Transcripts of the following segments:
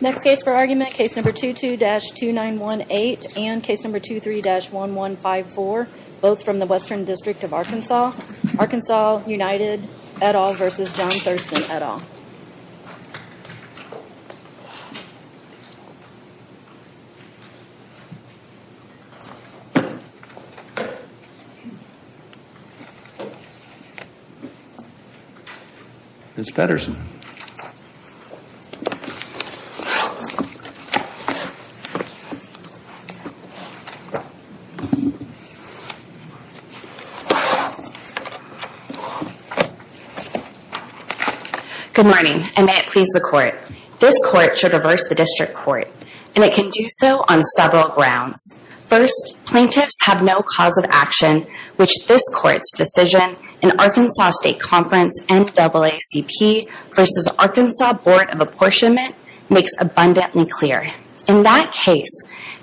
Next case for argument, case number 22-2918 and case number 23-1154, both from the Western District of Arkansas. Arkansas United et al. v. John Thurston et al. Miss Pedersen Good morning and may it please the court. This court should reverse the district court and it can do so on several grounds. First, plaintiffs have no cause of action, which this court's decision in Arkansas State Conference NAACP v. Arkansas Board of Apportionment makes abundantly clear. In that case,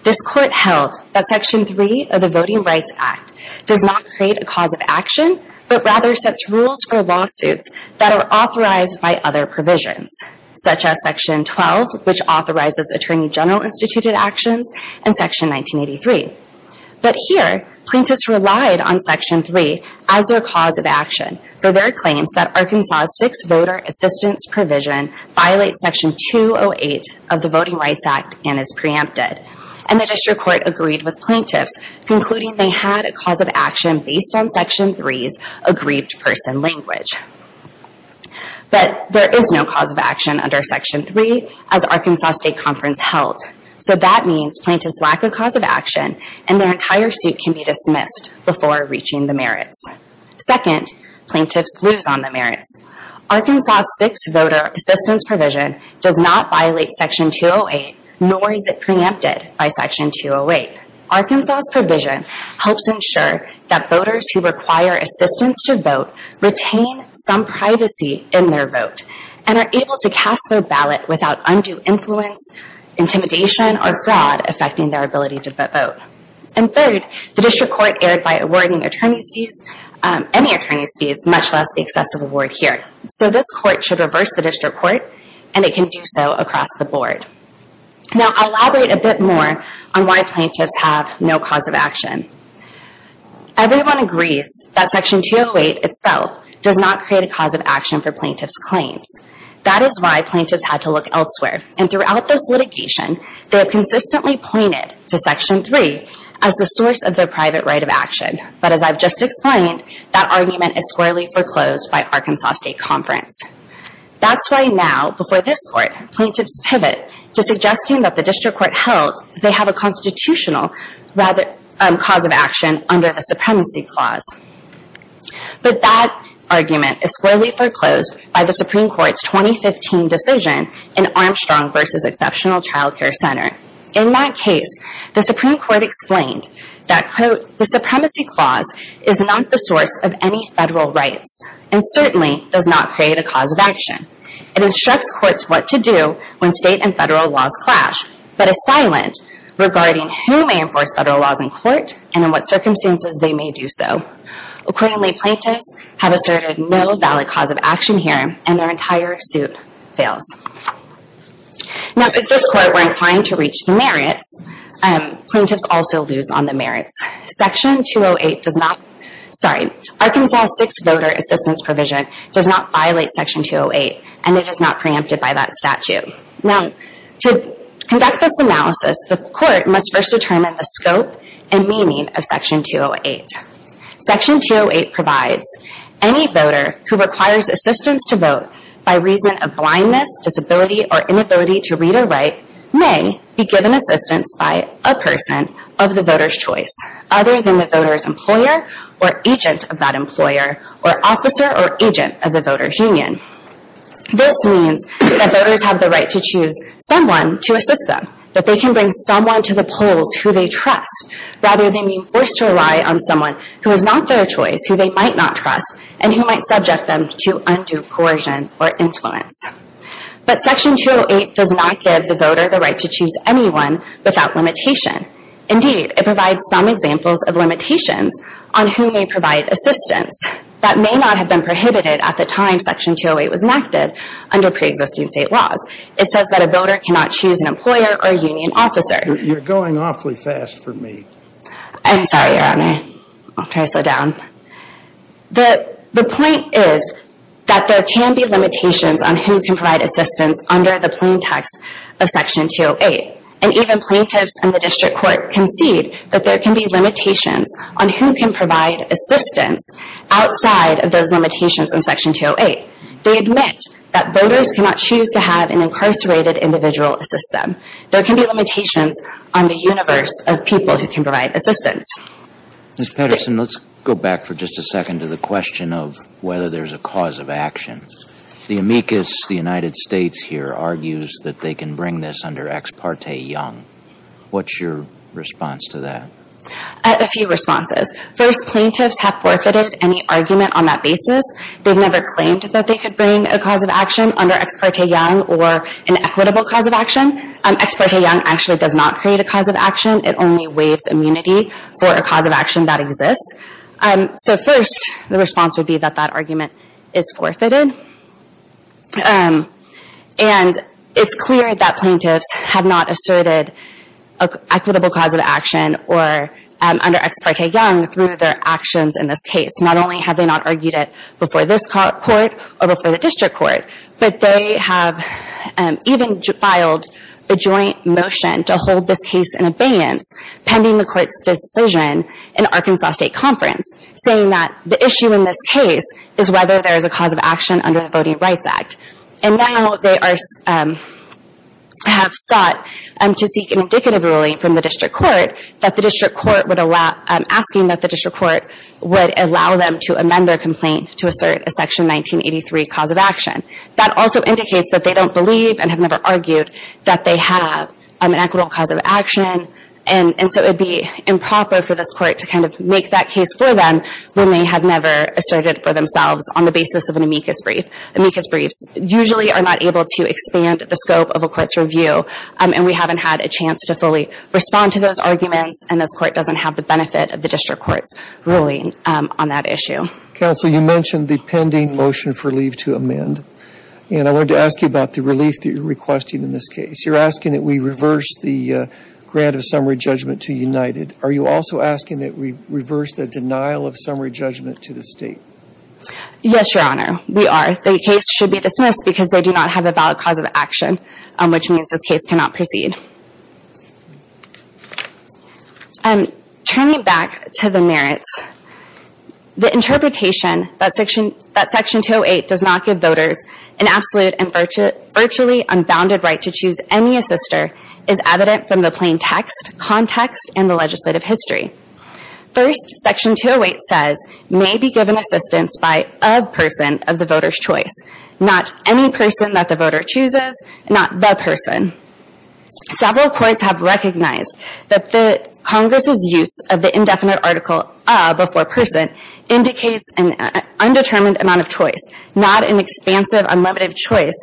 this court held that Section 3 of the Voting Rights Act does not create a cause of action, but rather sets rules for lawsuits that are authorized by other provisions, such as Section 12, which authorizes Attorney General instituted actions, and Section 1983. But here, plaintiffs relied on Section 3 as their cause of action for their claims that Arkansas' six-voter assistance provision violates Section 208 of the Voting Rights Act and is preempted. And the district court agreed with plaintiffs, concluding they had a cause of action based on Section 3's aggrieved person language. But there is no cause of action under Section 3 as Arkansas State Conference held. So that means plaintiffs lack a cause of action and their entire suit can be dismissed before reaching the merits. Second, plaintiffs lose on the merits. Arkansas' six-voter assistance provision does not violate Section 208, nor is it preempted by Section 208. Arkansas' provision helps ensure that voters who require assistance to vote retain some privacy in their vote and are able to cast their ballot without undue influence, intimidation, or fraud affecting their ability to vote. And third, the district court erred by awarding attorneys' fees, any attorneys' fees, much less the excessive award here. So this court should reverse the district court, and it can do so across the board. Now I'll elaborate a bit more on why plaintiffs have no cause of action. Everyone agrees that Section 208 itself does not create a cause of action for plaintiffs' claims. That is why plaintiffs had to look elsewhere. And throughout this litigation, they have consistently pointed to Section 3 as the source of their private right of action. But as I've just explained, that argument is squarely foreclosed by Arkansas State Conference. That's why now, before this court, plaintiffs pivot to suggesting that the district court held they have a constitutional cause of action under the Supremacy Clause. But that argument is squarely foreclosed by the Supreme Court's 2015 decision in Armstrong v. Exceptional Child Care Center. In that case, the Supreme Court explained that, quote, the Supremacy Clause is not the source of any federal rights, and certainly does not create a cause of action. It instructs courts what to do when state and federal laws clash, but is silent regarding who may enforce federal laws in court and in what circumstances they may do so. Accordingly, plaintiffs have asserted no valid cause of action here, and their entire suit fails. Now, if this court were inclined to reach the merits, plaintiffs also lose on the merits. Section 208 does not, sorry, Arkansas 6 Voter Assistance Provision does not violate Section 208, and it is not preempted by that statute. Now, to conduct this analysis, the court must first determine the scope and meaning of Section 208. Section 208 provides, any voter who requires assistance to vote by reason of blindness, disability, or inability to read or write may be given assistance by a person of the voter's choice, other than the voter's employer or agent of that employer, or officer or agent of the voter's union. This means that voters have the right to choose someone to assist them, that they can bring someone to the polls who they trust, rather than being forced to rely on someone who is not their choice, who they might not trust, and who might subject them to undue coercion or influence. But Section 208 does not give the voter the right to choose anyone without limitation. Indeed, it provides some examples of limitations on who may provide assistance. That may not have been prohibited at the time Section 208 was enacted under preexisting state laws. It says that a voter cannot choose an employer or union officer. You're going awfully fast for me. I'm sorry, Your Honor. I'll try to slow down. The point is that there can be limitations on who can provide assistance under the plaintext of Section 208. And even plaintiffs in the district court concede that there can be limitations on who can provide assistance outside of those limitations in Section 208. They admit that voters cannot choose to have an incarcerated individual assist them. There can be limitations on the universe of people who can provide assistance. Ms. Patterson, let's go back for just a second to the question of whether there's a cause of action. The amicus, the United States here, argues that they can bring this under Ex parte Young. What's your response to that? A few responses. First, plaintiffs have forfeited any argument on that basis. They've never claimed that they could bring a cause of action under Ex parte Young or an equitable cause of action. Ex parte Young actually does not create a cause of action. It only waives immunity for a cause of action that exists. So first, the response would be that that argument is forfeited. And it's clear that plaintiffs have not asserted an equitable cause of action under Ex parte Young through their actions in this case. Not only have they not argued it before this court or before the district court, but they have even filed a joint motion to hold this case in abeyance pending the court's decision in Arkansas State Conference saying that the issue in this case is whether there is a cause of action under the Voting Rights Act. And now they have sought to seek an indicative ruling from the district court asking that the district court would allow them to amend their complaint to assert a Section 1983 cause of action. That also indicates that they don't believe and have never argued that they have an equitable cause of action. And so it would be improper for this court to kind of make that case for them when they have never asserted for themselves on the basis of an amicus brief. Amicus briefs usually are not able to expand the scope of a court's review. And we haven't had a chance to fully respond to those arguments. And this court doesn't have the benefit of the district court's ruling on that issue. Counsel, you mentioned the pending motion for leave to amend. And I wanted to ask you about the relief that you're requesting in this case. You're asking that we reverse the grant of summary judgment to United. Are you also asking that we reverse the denial of summary judgment to the State? Yes, Your Honor, we are. The case should be dismissed because they do not have a valid cause of action, which means this case cannot proceed. Turning back to the merits, the interpretation that Section 208 does not give voters an absolute and virtually unbounded right to choose any assister is evident from the plain text, context, and the legislative history. First, Section 208 says, may be given assistance by a person of the voter's choice. Not any person that the voter chooses. Not the person. Several courts have recognized that the Congress' use of the indefinite article, a before person, indicates an undetermined amount of choice. Not an expansive, unlimited choice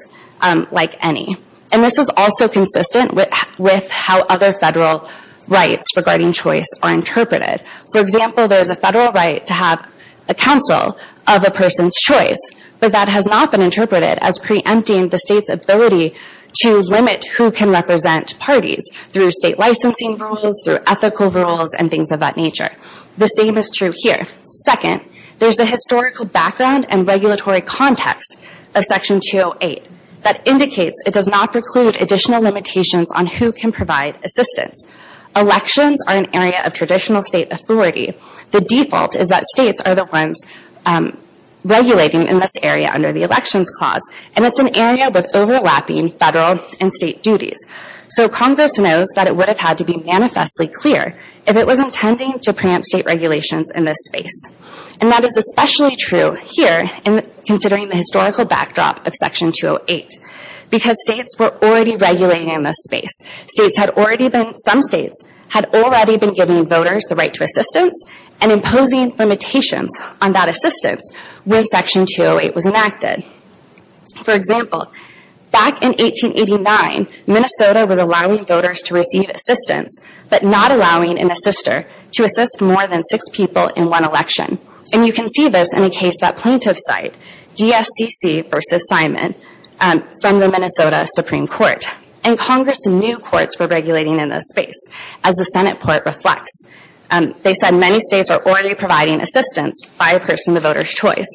like any. And this is also consistent with how other federal rights regarding choice are interpreted. For example, there's a federal right to have a counsel of a person's choice, but that has not been interpreted as preempting the State's ability to limit who can represent parties through State licensing rules, through ethical rules, and things of that nature. The same is true here. Second, there's a historical background and regulatory context of Section 208 that indicates it does not preclude additional limitations on who can provide assistance. Elections are an area of traditional State authority. The default is that States are the ones regulating in this area under the Elections Clause, and it's an area with overlapping federal and State duties. So Congress knows that it would have had to be manifestly clear if it was intending to preempt State regulations in this space. And that is especially true here, considering the historical backdrop of Section 208, because States were already regulating in this space. Some States had already been giving voters the right to assistance and imposing limitations on that assistance when Section 208 was enacted. For example, back in 1889, Minnesota was allowing voters to receive assistance, but not allowing an assister to assist more than six people in one election. And you can see this in a case that plaintiffs cite, DSCC v. Simon, from the Minnesota Supreme Court. And Congress knew courts were regulating in this space, as the Senate Port reflects. They said many States are already providing assistance by a person of the voter's choice.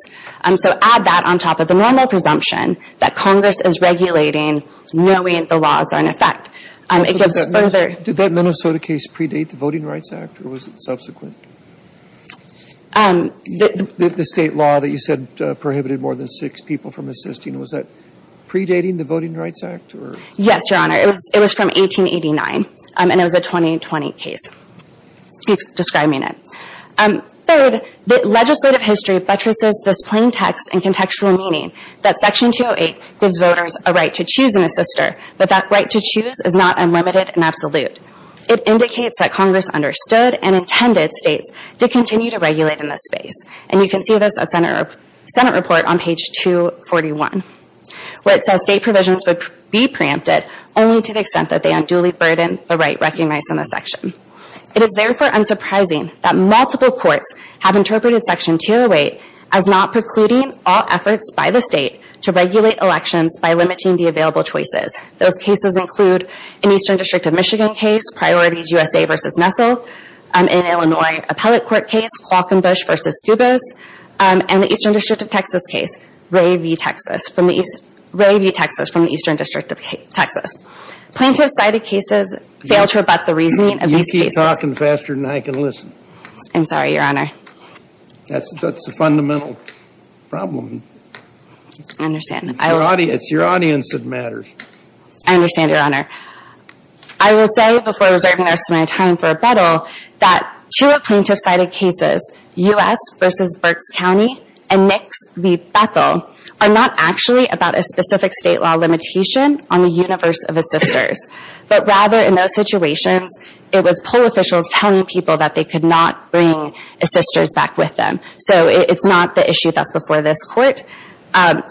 So add that on top of the normal presumption that Congress is regulating knowing the laws are in effect. Did that Minnesota case predate the Voting Rights Act, or was it subsequent? The State law that you said prohibited more than six people from assisting, was that predating the Voting Rights Act? Yes, Your Honor. It was from 1889, and it was a 2020 case describing it. Third, legislative history buttresses this plain text and contextual meaning that Section 208 gives voters a right to choose an assister, but that right to choose is not unlimited and absolute. It indicates that Congress understood and intended States to continue to regulate in this space. And you can see this at Senate Report on page 241, where it says State provisions would be preempted, only to the extent that they unduly burden the right recognized in the section. It is therefore unsurprising that multiple courts have interpreted Section 208 as not precluding all efforts by the State to regulate elections by limiting the available choices. Those cases include an Eastern District of Michigan case, Priorities USA v. Nessel, an Illinois Appellate Court case, Quackenbush v. Skubas, and the Eastern District of Texas case, Ray v. Texas from the Eastern District of Texas. Plaintiff-sided cases fail to rebut the reasoning of these cases. You keep talking faster than I can listen. I'm sorry, Your Honor. That's a fundamental problem. It's your audience that matters. I understand, Your Honor. I will say before reserving the rest of my time for rebuttal that two plaintiff-sided cases, U.S. v. Berks County and Nix v. Bethel, are not actually about a specific State law limitation on the universe of assisters, but rather in those situations, it was poll officials telling people that they could not bring assisters back with them. It's not the issue that's before this Court.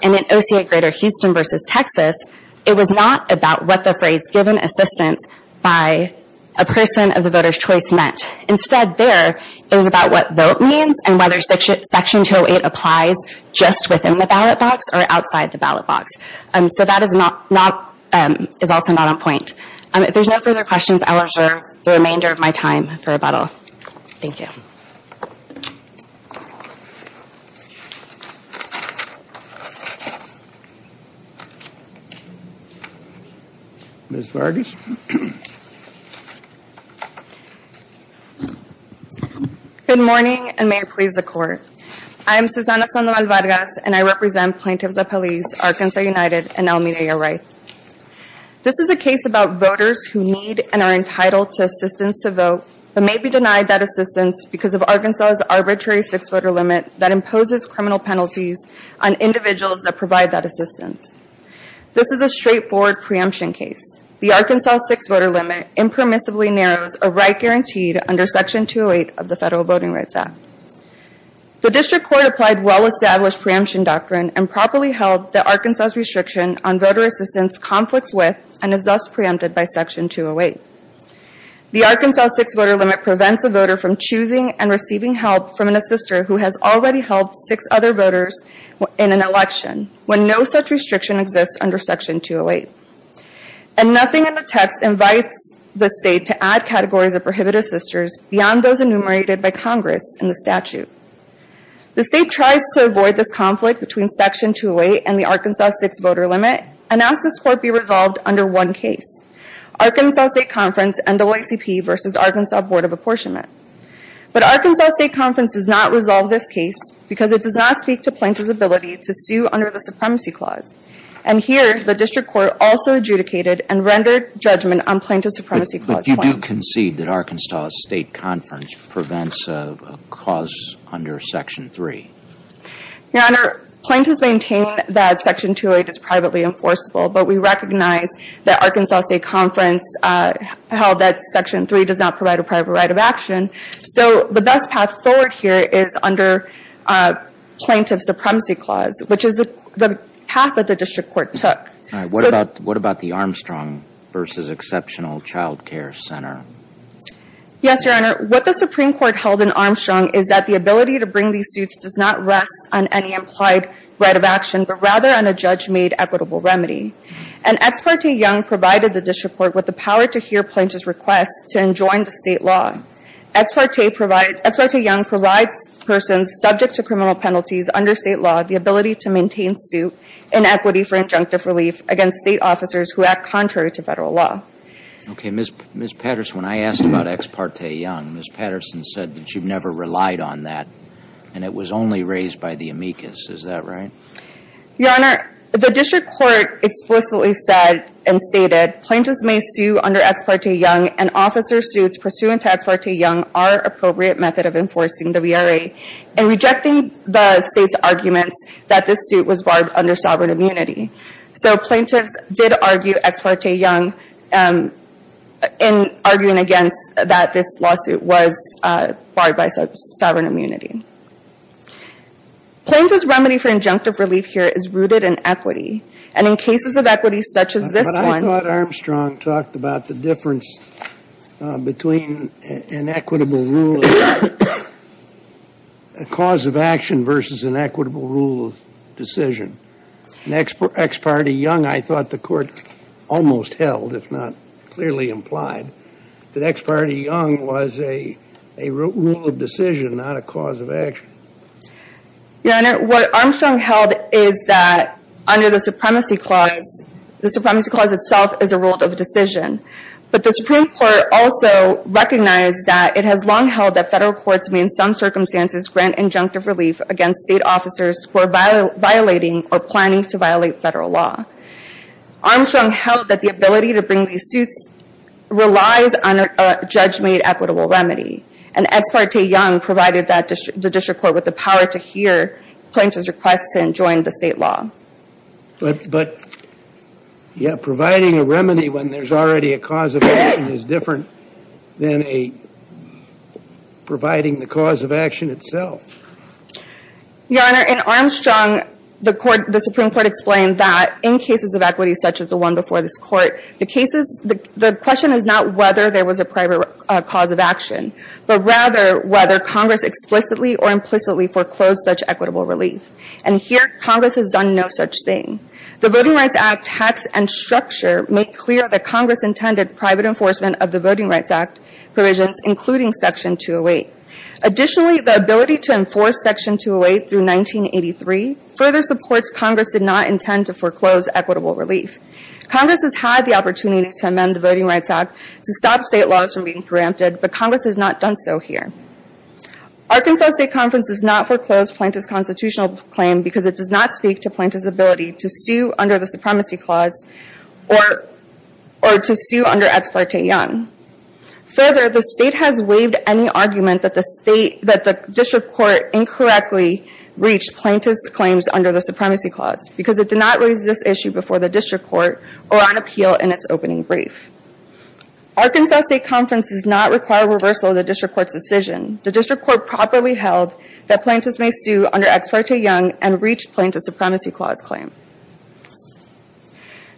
In OCA Greater Houston v. Texas, it was not about what the phrase given assistance by a person of the voter's choice meant. Instead, there, it was about what vote means and whether Section 208 applies just within the ballot box or outside the ballot box. That is also not on point. If there's no further questions, I will reserve the remainder of my time for rebuttal. Thank you. Ms. Vargas? Good morning, and may it please the Court. I am Susana Sandoval Vargas, and I represent plaintiffs of police, Arkansas United, and El Mireo Wright. This is a case about voters who need and are entitled to assistance to vote, but may be denied that assistance because of Arkansas's arbitrary six-voter limit that imposes criminal penalties on individuals that provide that assistance. This is a straightforward preemption case. The Arkansas six-voter limit impermissibly narrows a right guaranteed under Section 208 of the Federal Voting Rights Act. The District Court applied well-established preemption doctrine and properly held that Arkansas's restriction on voter assistance conflicts with and is thus preempted by Section 208. The Arkansas six-voter limit prevents a voter from choosing and receiving help from an assister who has already helped six other voters in an election, when no such restriction exists under Section 208. And nothing in the text invites the State to add categories of prohibited assisters beyond those enumerated by Congress in the statute. The State tries to avoid this conflict between Section 208 and the Arkansas six-voter limit and asks this Court be resolved under one case, Arkansas State Conference, NAACP versus Arkansas Board of Apportionment. But Arkansas State Conference does not resolve this case because it does not speak to plaintiff's ability to sue under the Supremacy Clause. And here, the District Court also adjudicated and rendered judgment on plaintiff's Supremacy Clause claim. If you do concede that Arkansas State Conference prevents a clause under Section 3? Your Honor, plaintiffs maintain that Section 208 is privately enforceable, but we recognize that Arkansas State Conference held that Section 3 does not provide a private right of action. So the best path forward here is under plaintiff's Supremacy Clause, which is the path that the District Court took. All right. What about the Armstrong versus Exceptional Child Care Center? Yes, Your Honor. What the Supreme Court held in Armstrong is that the ability to bring these suits does not rest on any implied right of action, but rather on a judge-made equitable remedy. And Ex parte Young provided the District Court with the power to hear plaintiffs' requests to enjoin the State law. Ex parte Young provides persons subject to criminal penalties under State law the ability to maintain suit in equity for injunctive relief against State officers who act contrary to Federal law. Okay. Ms. Patterson, when I asked about Ex parte Young, Ms. Patterson said that you've never relied on that, and it was only raised by the amicus. Is that right? Your Honor, the District Court explicitly said and stated, plaintiffs may sue under Ex parte Young, and officer suits pursuant to Ex parte Young are appropriate method of enforcing the VRA. And rejecting the State's arguments that this suit was barred under sovereign immunity. So plaintiffs did argue Ex parte Young in arguing against that this lawsuit was barred by sovereign immunity. Plaintiff's remedy for injunctive relief here is rooted in equity. And in cases of equity such as this one. I thought Armstrong talked about the difference between an equitable rule of a cause of action versus an equitable rule of decision. In Ex parte Young, I thought the Court almost held, if not clearly implied, that Ex parte Young was a rule of decision, not a cause of action. Your Honor, what Armstrong held is that under the Supremacy Clause, the Supremacy Clause itself is a rule of decision. But the Supreme Court also recognized that it has long held that federal courts may in some circumstances grant injunctive relief against state officers who are violating or planning to violate federal law. Armstrong held that the ability to bring these suits relies on a judge-made equitable remedy. And Ex parte Young provided the district court with the power to hear plaintiffs' requests and join the state law. But providing a remedy when there's already a cause of action is different than providing the cause of action itself. Your Honor, in Armstrong, the Supreme Court explained that in cases of equity such as the one before this Court, the question is not whether there was a private cause of action, but rather whether Congress explicitly or implicitly foreclosed such equitable relief. And here, Congress has done no such thing. The Voting Rights Act text and structure make clear that Congress intended private enforcement of the Voting Rights Act provisions, including Section 208. Additionally, the ability to enforce Section 208 through 1983 further supports Congress did not intend to foreclose equitable relief. Congress has had the opportunity to amend the Voting Rights Act to stop state laws from being preempted, but Congress has not done so here. Arkansas State Conference does not foreclose plaintiff's constitutional claim because it does not speak to plaintiff's ability to sue under the Supremacy Clause or to sue under Ex parte Young. Further, the state has waived any argument that the district court incorrectly reached plaintiff's claims under the Supremacy Clause because it did not raise this issue before the district court or on appeal in its opening brief. Arkansas State Conference does not require reversal of the district court's decision. The district court properly held that plaintiffs may sue under Ex parte Young and reach plaintiff's Supremacy Clause claim.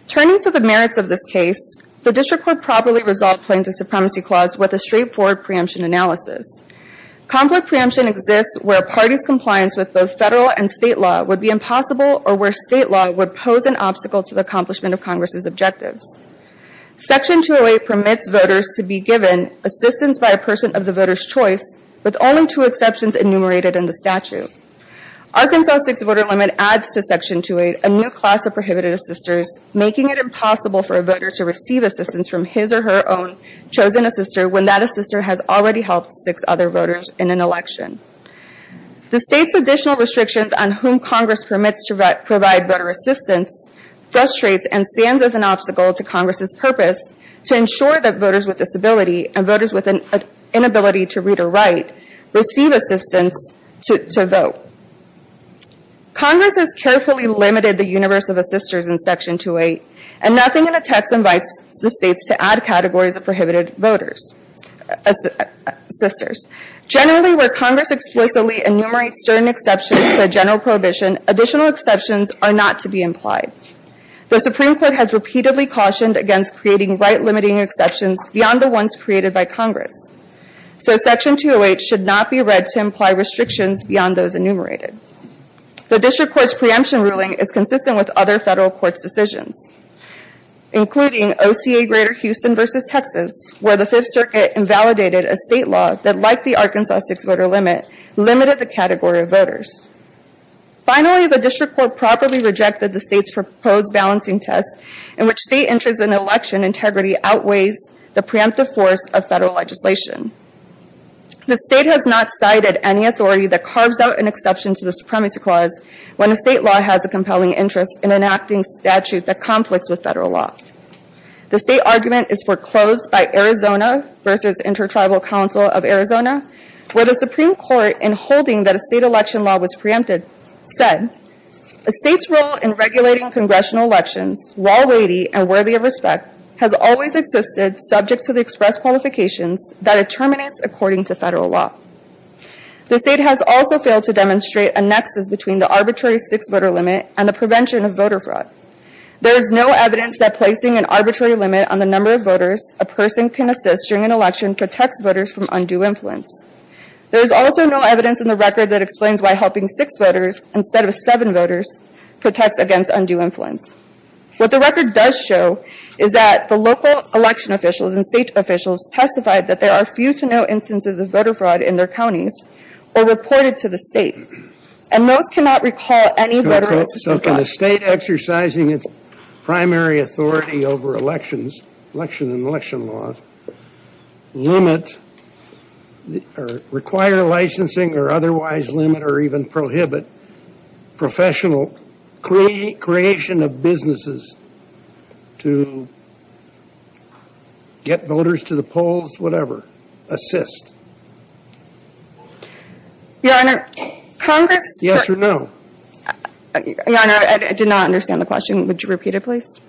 Turning to the merits of this case, the district court properly resolved plaintiff's Supremacy Clause with a straightforward preemption analysis. Conflict preemption exists where a party's compliance with both federal and state law would be impossible or where state law would pose an obstacle to the accomplishment of Congress' objectives. Section 208 permits voters to be given assistance by a person of the voter's choice, with only two exceptions enumerated in the statute. Arkansas' six-voter limit adds to Section 208 a new class of prohibited assisters, making it impossible for a voter to receive assistance from his or her own chosen assister when that assister has already helped six other voters in an election. The state's additional restrictions on whom Congress permits to provide voter assistance frustrates and stands as an obstacle to Congress' purpose to ensure that voters with disability and voters with an inability to read or write receive assistance to vote. Congress has carefully limited the universe of assisters in Section 208, and nothing in the text invites the states to add categories of prohibited voters' assisters. Generally, where Congress explicitly enumerates certain exceptions to a general prohibition, additional exceptions are not to be implied. The Supreme Court has repeatedly cautioned against creating right-limiting exceptions beyond the ones created by Congress. So Section 208 should not be read to imply restrictions beyond those enumerated. The District Court's preemption ruling is consistent with other federal courts' decisions, including OCA-Greater Houston v. Texas, where the Fifth Circuit invalidated a state law that, like the Arkansas six-voter limit, limited the category of voters. Finally, the District Court properly rejected the state's proposed balancing test in which state interest in election integrity outweighs the preemptive force of federal legislation. The state has not cited any authority that carves out an exception to the Supremacy Clause when a state law has a compelling interest in enacting statute that conflicts with federal law. The state argument is foreclosed by Arizona v. Intertribal Council of Arizona, where the Supreme Court, in holding that a state election law was preempted, said, A state's role in regulating congressional elections, while weighty and worthy of respect, has always existed subject to the express qualifications that it terminates according to federal law. The state has also failed to demonstrate a nexus between the arbitrary six-voter limit and the prevention of voter fraud. There is no evidence that placing an arbitrary limit on the number of voters a person can assist during an election protects voters from undue influence. There is also no evidence in the record that explains why helping six voters instead of seven voters protects against undue influence. What the record does show is that the local election officials and state officials testified that there are few to no instances of voter fraud in their counties or reported to the state. And those cannot recall any voter assistance. So can a state exercising its primary authority over elections, election and election laws, limit or require licensing or otherwise limit or even prohibit professional creation of businesses to get voters to the polls, whatever, assist? Your Honor, Congress Yes or no? Your Honor, I did not understand the question. Would you repeat it, please?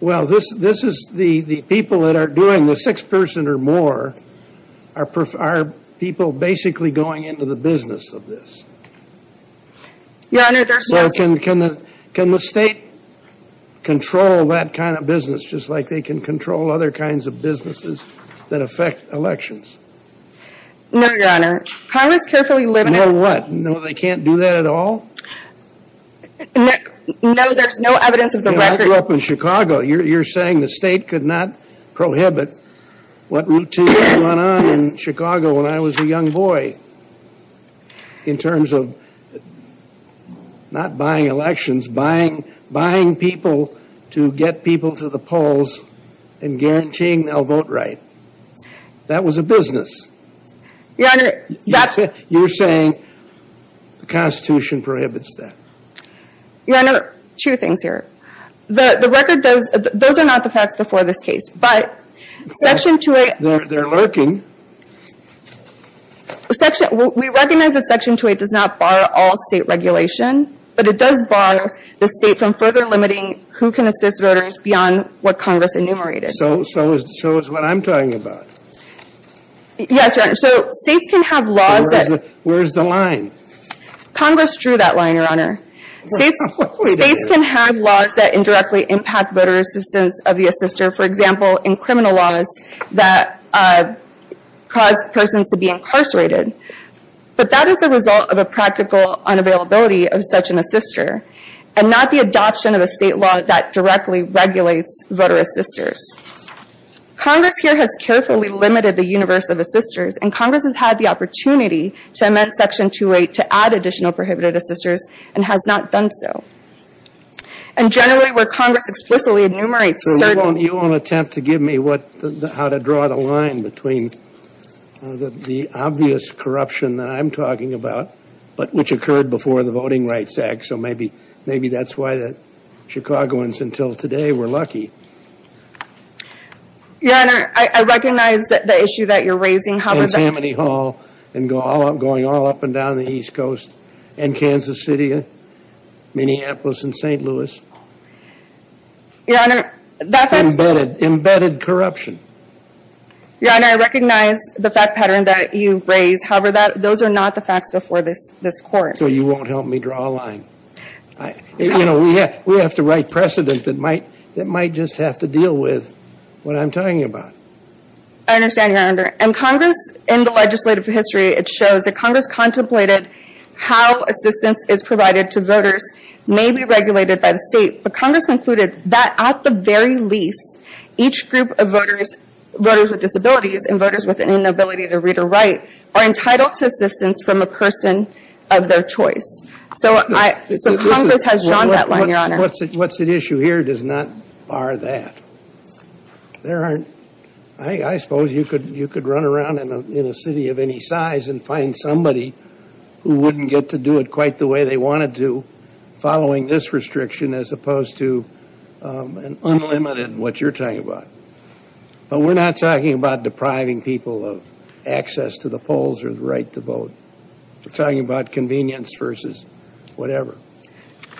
Well, this is the people that are doing the six-person or more are people basically going into the business of this. Your Honor, there's no So can the state control that kind of business just like they can control other kinds of businesses that affect elections? No, Your Honor. Congress carefully limits No, what? No, they can't do that at all? No, there's no evidence of the record I grew up in Chicago. You're saying the state could not prohibit what routine went on in Chicago when I was a young boy in terms of not buying elections, buying people to get people to the polls and guaranteeing they'll vote right. That was a business. Your Honor, that's You're saying the Constitution prohibits that. Your Honor, two things here. The record does, those are not the facts before this case, but Section 2A They're lurking We recognize that Section 2A does not bar all state regulation, but it does bar the state from further limiting who can assist voters beyond what Congress enumerated. So it's what I'm talking about. Yes, Your Honor. So states can have laws that Where's the line? Congress drew that line, Your Honor. States can have laws that indirectly impact voter assistance of the assister, for example, in criminal laws that cause persons to be incarcerated. But that is the result of a practical unavailability of such an assister, and not the adoption of a state law that directly regulates voter assisters. Congress here has carefully limited the universe of assisters, and Congress has had the opportunity to amend Section 2A to add additional prohibited assisters, and has not done so. And generally where Congress explicitly enumerates certain So you won't attempt to give me how to draw the line between the obvious corruption that I'm talking about, but which occurred before the Voting Rights Act, so maybe that's why the Chicagoans until today were lucky. Your Honor, I recognize the issue that you're raising. In Tammany Hall, and going all up and down the East Coast, and Kansas City, Minneapolis, and St. Louis. Your Honor, that fact Embedded corruption. Your Honor, I recognize the fact pattern that you raise. However, those are not the facts before this court. So you won't help me draw a line. You know, we have to write precedent that might just have to deal with what I'm talking about. I understand, Your Honor. And Congress, in the legislative history, it shows that Congress contemplated how assistance is provided to voters may be regulated by the state. But Congress concluded that at the very least, each group of voters, voters with disabilities, and voters with an inability to read or write, are entitled to assistance from a person of their choice. So Congress has drawn that line, Your Honor. What's at issue here does not bar that. I suppose you could run around in a city of any size and find somebody who wouldn't get to do it quite the way they wanted to, following this restriction, as opposed to an unlimited, what you're talking about. But we're not talking about depriving people of access to the polls or the right to vote. We're talking about convenience versus whatever.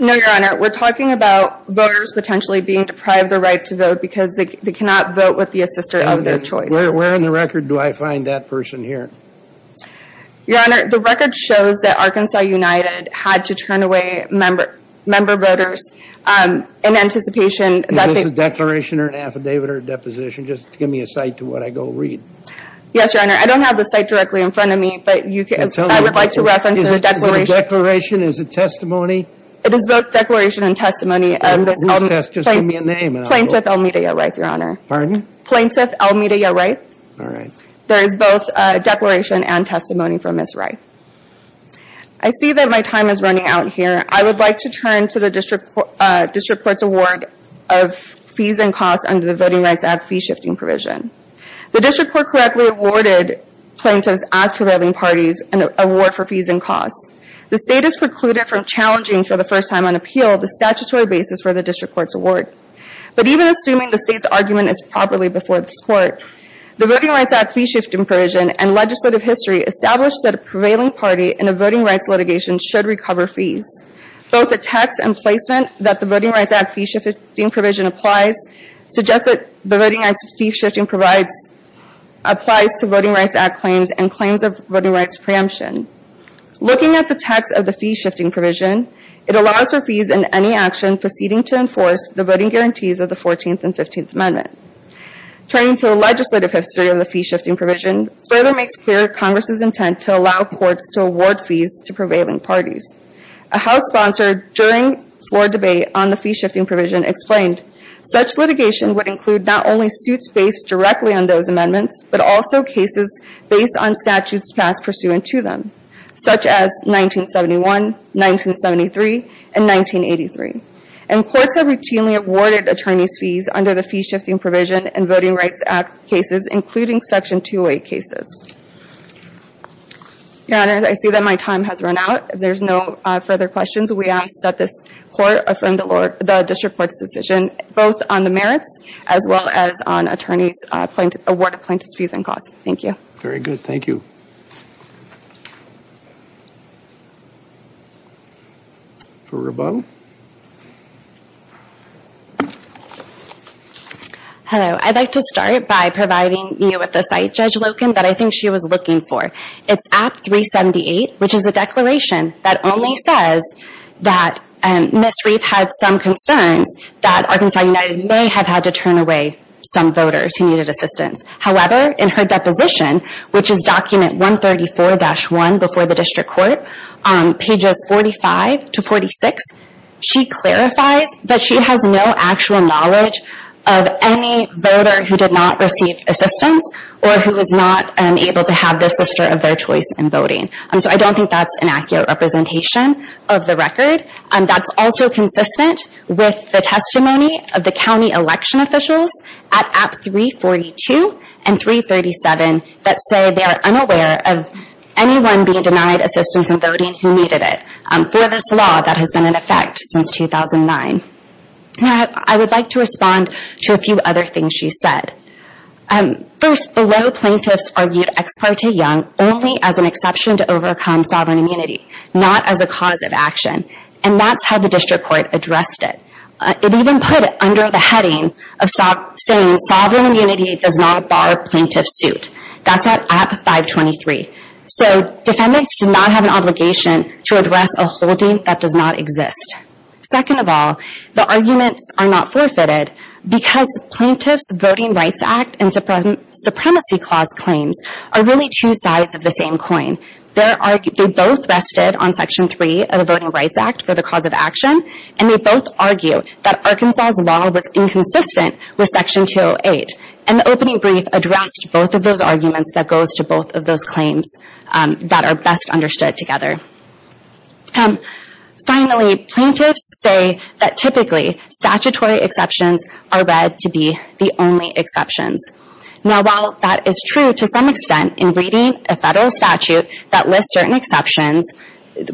No, Your Honor. We're talking about voters potentially being deprived of the right to vote because they cannot vote with the assister of their choice. Where in the record do I find that person here? Your Honor, the record shows that Arkansas United had to turn away member voters in anticipation that they... Is this a declaration or an affidavit or a deposition? Just give me a cite to what I go read. Yes, Your Honor. I don't have the cite directly in front of me. I would like to reference a declaration. Is it a declaration? Is it testimony? It is both declaration and testimony. Please just give me a name. Plaintiff Almedia Wright, Your Honor. Pardon? Plaintiff Almedia Wright. All right. There is both declaration and testimony from Ms. Wright. I see that my time is running out here. I would like to turn to the District Court's award of fees and costs under the Voting Rights Act fee-shifting provision. The District Court correctly awarded plaintiffs as prevailing parties an award for fees and costs. The State is precluded from challenging for the first time on appeal the statutory basis for the District Court's award. But even assuming the State's argument is properly before this Court, the Voting Rights Act fee-shifting provision and legislative history establish that a prevailing party in a voting rights litigation should recover fees. Both the text and placement that the Voting Rights Act fee-shifting provision applies suggest that the Voting Rights Act fee-shifting applies to Voting Rights Act claims and claims of voting rights preemption. Looking at the text of the fee-shifting provision, it allows for fees in any action proceeding to enforce the voting guarantees of the 14th and 15th Amendment. Turning to the legislative history of the fee-shifting provision, further makes clear Congress' intent to allow courts to award fees to prevailing parties. A House sponsor during floor debate on the fee-shifting provision explained, such litigation would include not only suits based directly on those amendments, but also cases based on statutes passed pursuant to them, such as 1971, 1973, and 1983. And courts have routinely awarded attorneys fees under the fee-shifting provision in Voting Rights Act cases, including Section 208 cases. Your Honors, I see that my time has run out. If there's no further questions, we ask that this Court affirm the District Court's decision, both on the merits, as well as on attorneys' award of plaintiffs' fees and costs. Thank you. Very good. Thank you. Hello. I'd like to start by providing you with a cite, Judge Loken, that I think she was looking for. It's Act 378, which is a declaration that only says that Ms. Reed had some concerns that Arkansas United may have had to turn away some voters who needed assistance. However, in her deposition, which is document 134-1 before the District Court, pages 45 to 46, she clarifies that she has no actual knowledge of any voter who did not receive assistance or who was not able to have the assister of their choice in voting. So I don't think that's an accurate representation of the record. That's also consistent with the testimony of the county election officials at Apps 342 and 337 that say they are unaware of anyone being denied assistance in voting who needed it. For this law, that has been in effect since 2009. I would like to respond to a few other things she said. First, below, plaintiffs argued Ex parte Young only as an exception to overcome sovereign immunity, not as a cause of action, and that's how the District Court addressed it. It even put it under the heading of saying sovereign immunity does not bar plaintiff's suit. That's at App 523. So defendants do not have an obligation to address a holding that does not exist. Second of all, the arguments are not forfeited, because plaintiffs' Voting Rights Act and Supremacy Clause claims are really two sides of the same coin. They both rested on Section 3 of the Voting Rights Act for the cause of action, and they both argue that Arkansas' law was inconsistent with Section 208. And the opening brief addressed both of those arguments that goes to both of those claims that are best understood together. Finally, plaintiffs say that typically statutory exceptions are read to be the only exceptions. Now, while that is true to some extent in reading a federal statute that lists certain exceptions,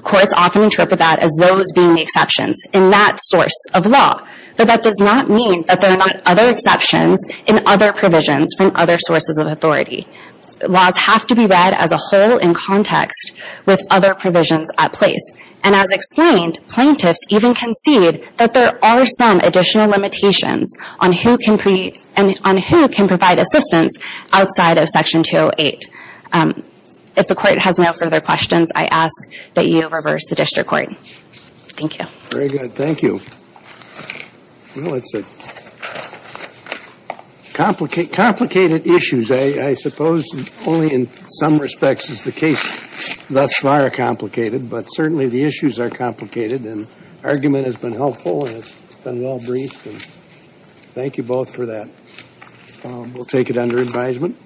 courts often interpret that as those being the exceptions in that source of law. But that does not mean that there are not other exceptions in other provisions from other sources of authority. Laws have to be read as a whole in context with other provisions at place. And as explained, plaintiffs even concede that there are some additional limitations on who can provide assistance outside of Section 208. If the Court has no further questions, I ask that you reverse the District Court. Thank you. Very good. Thank you. Well, it's a complicated issue. I suppose only in some respects is the case thus far complicated, but certainly the issues are complicated and the argument has been helpful and well-briefed. Thank you both for that. We'll take it under advisement.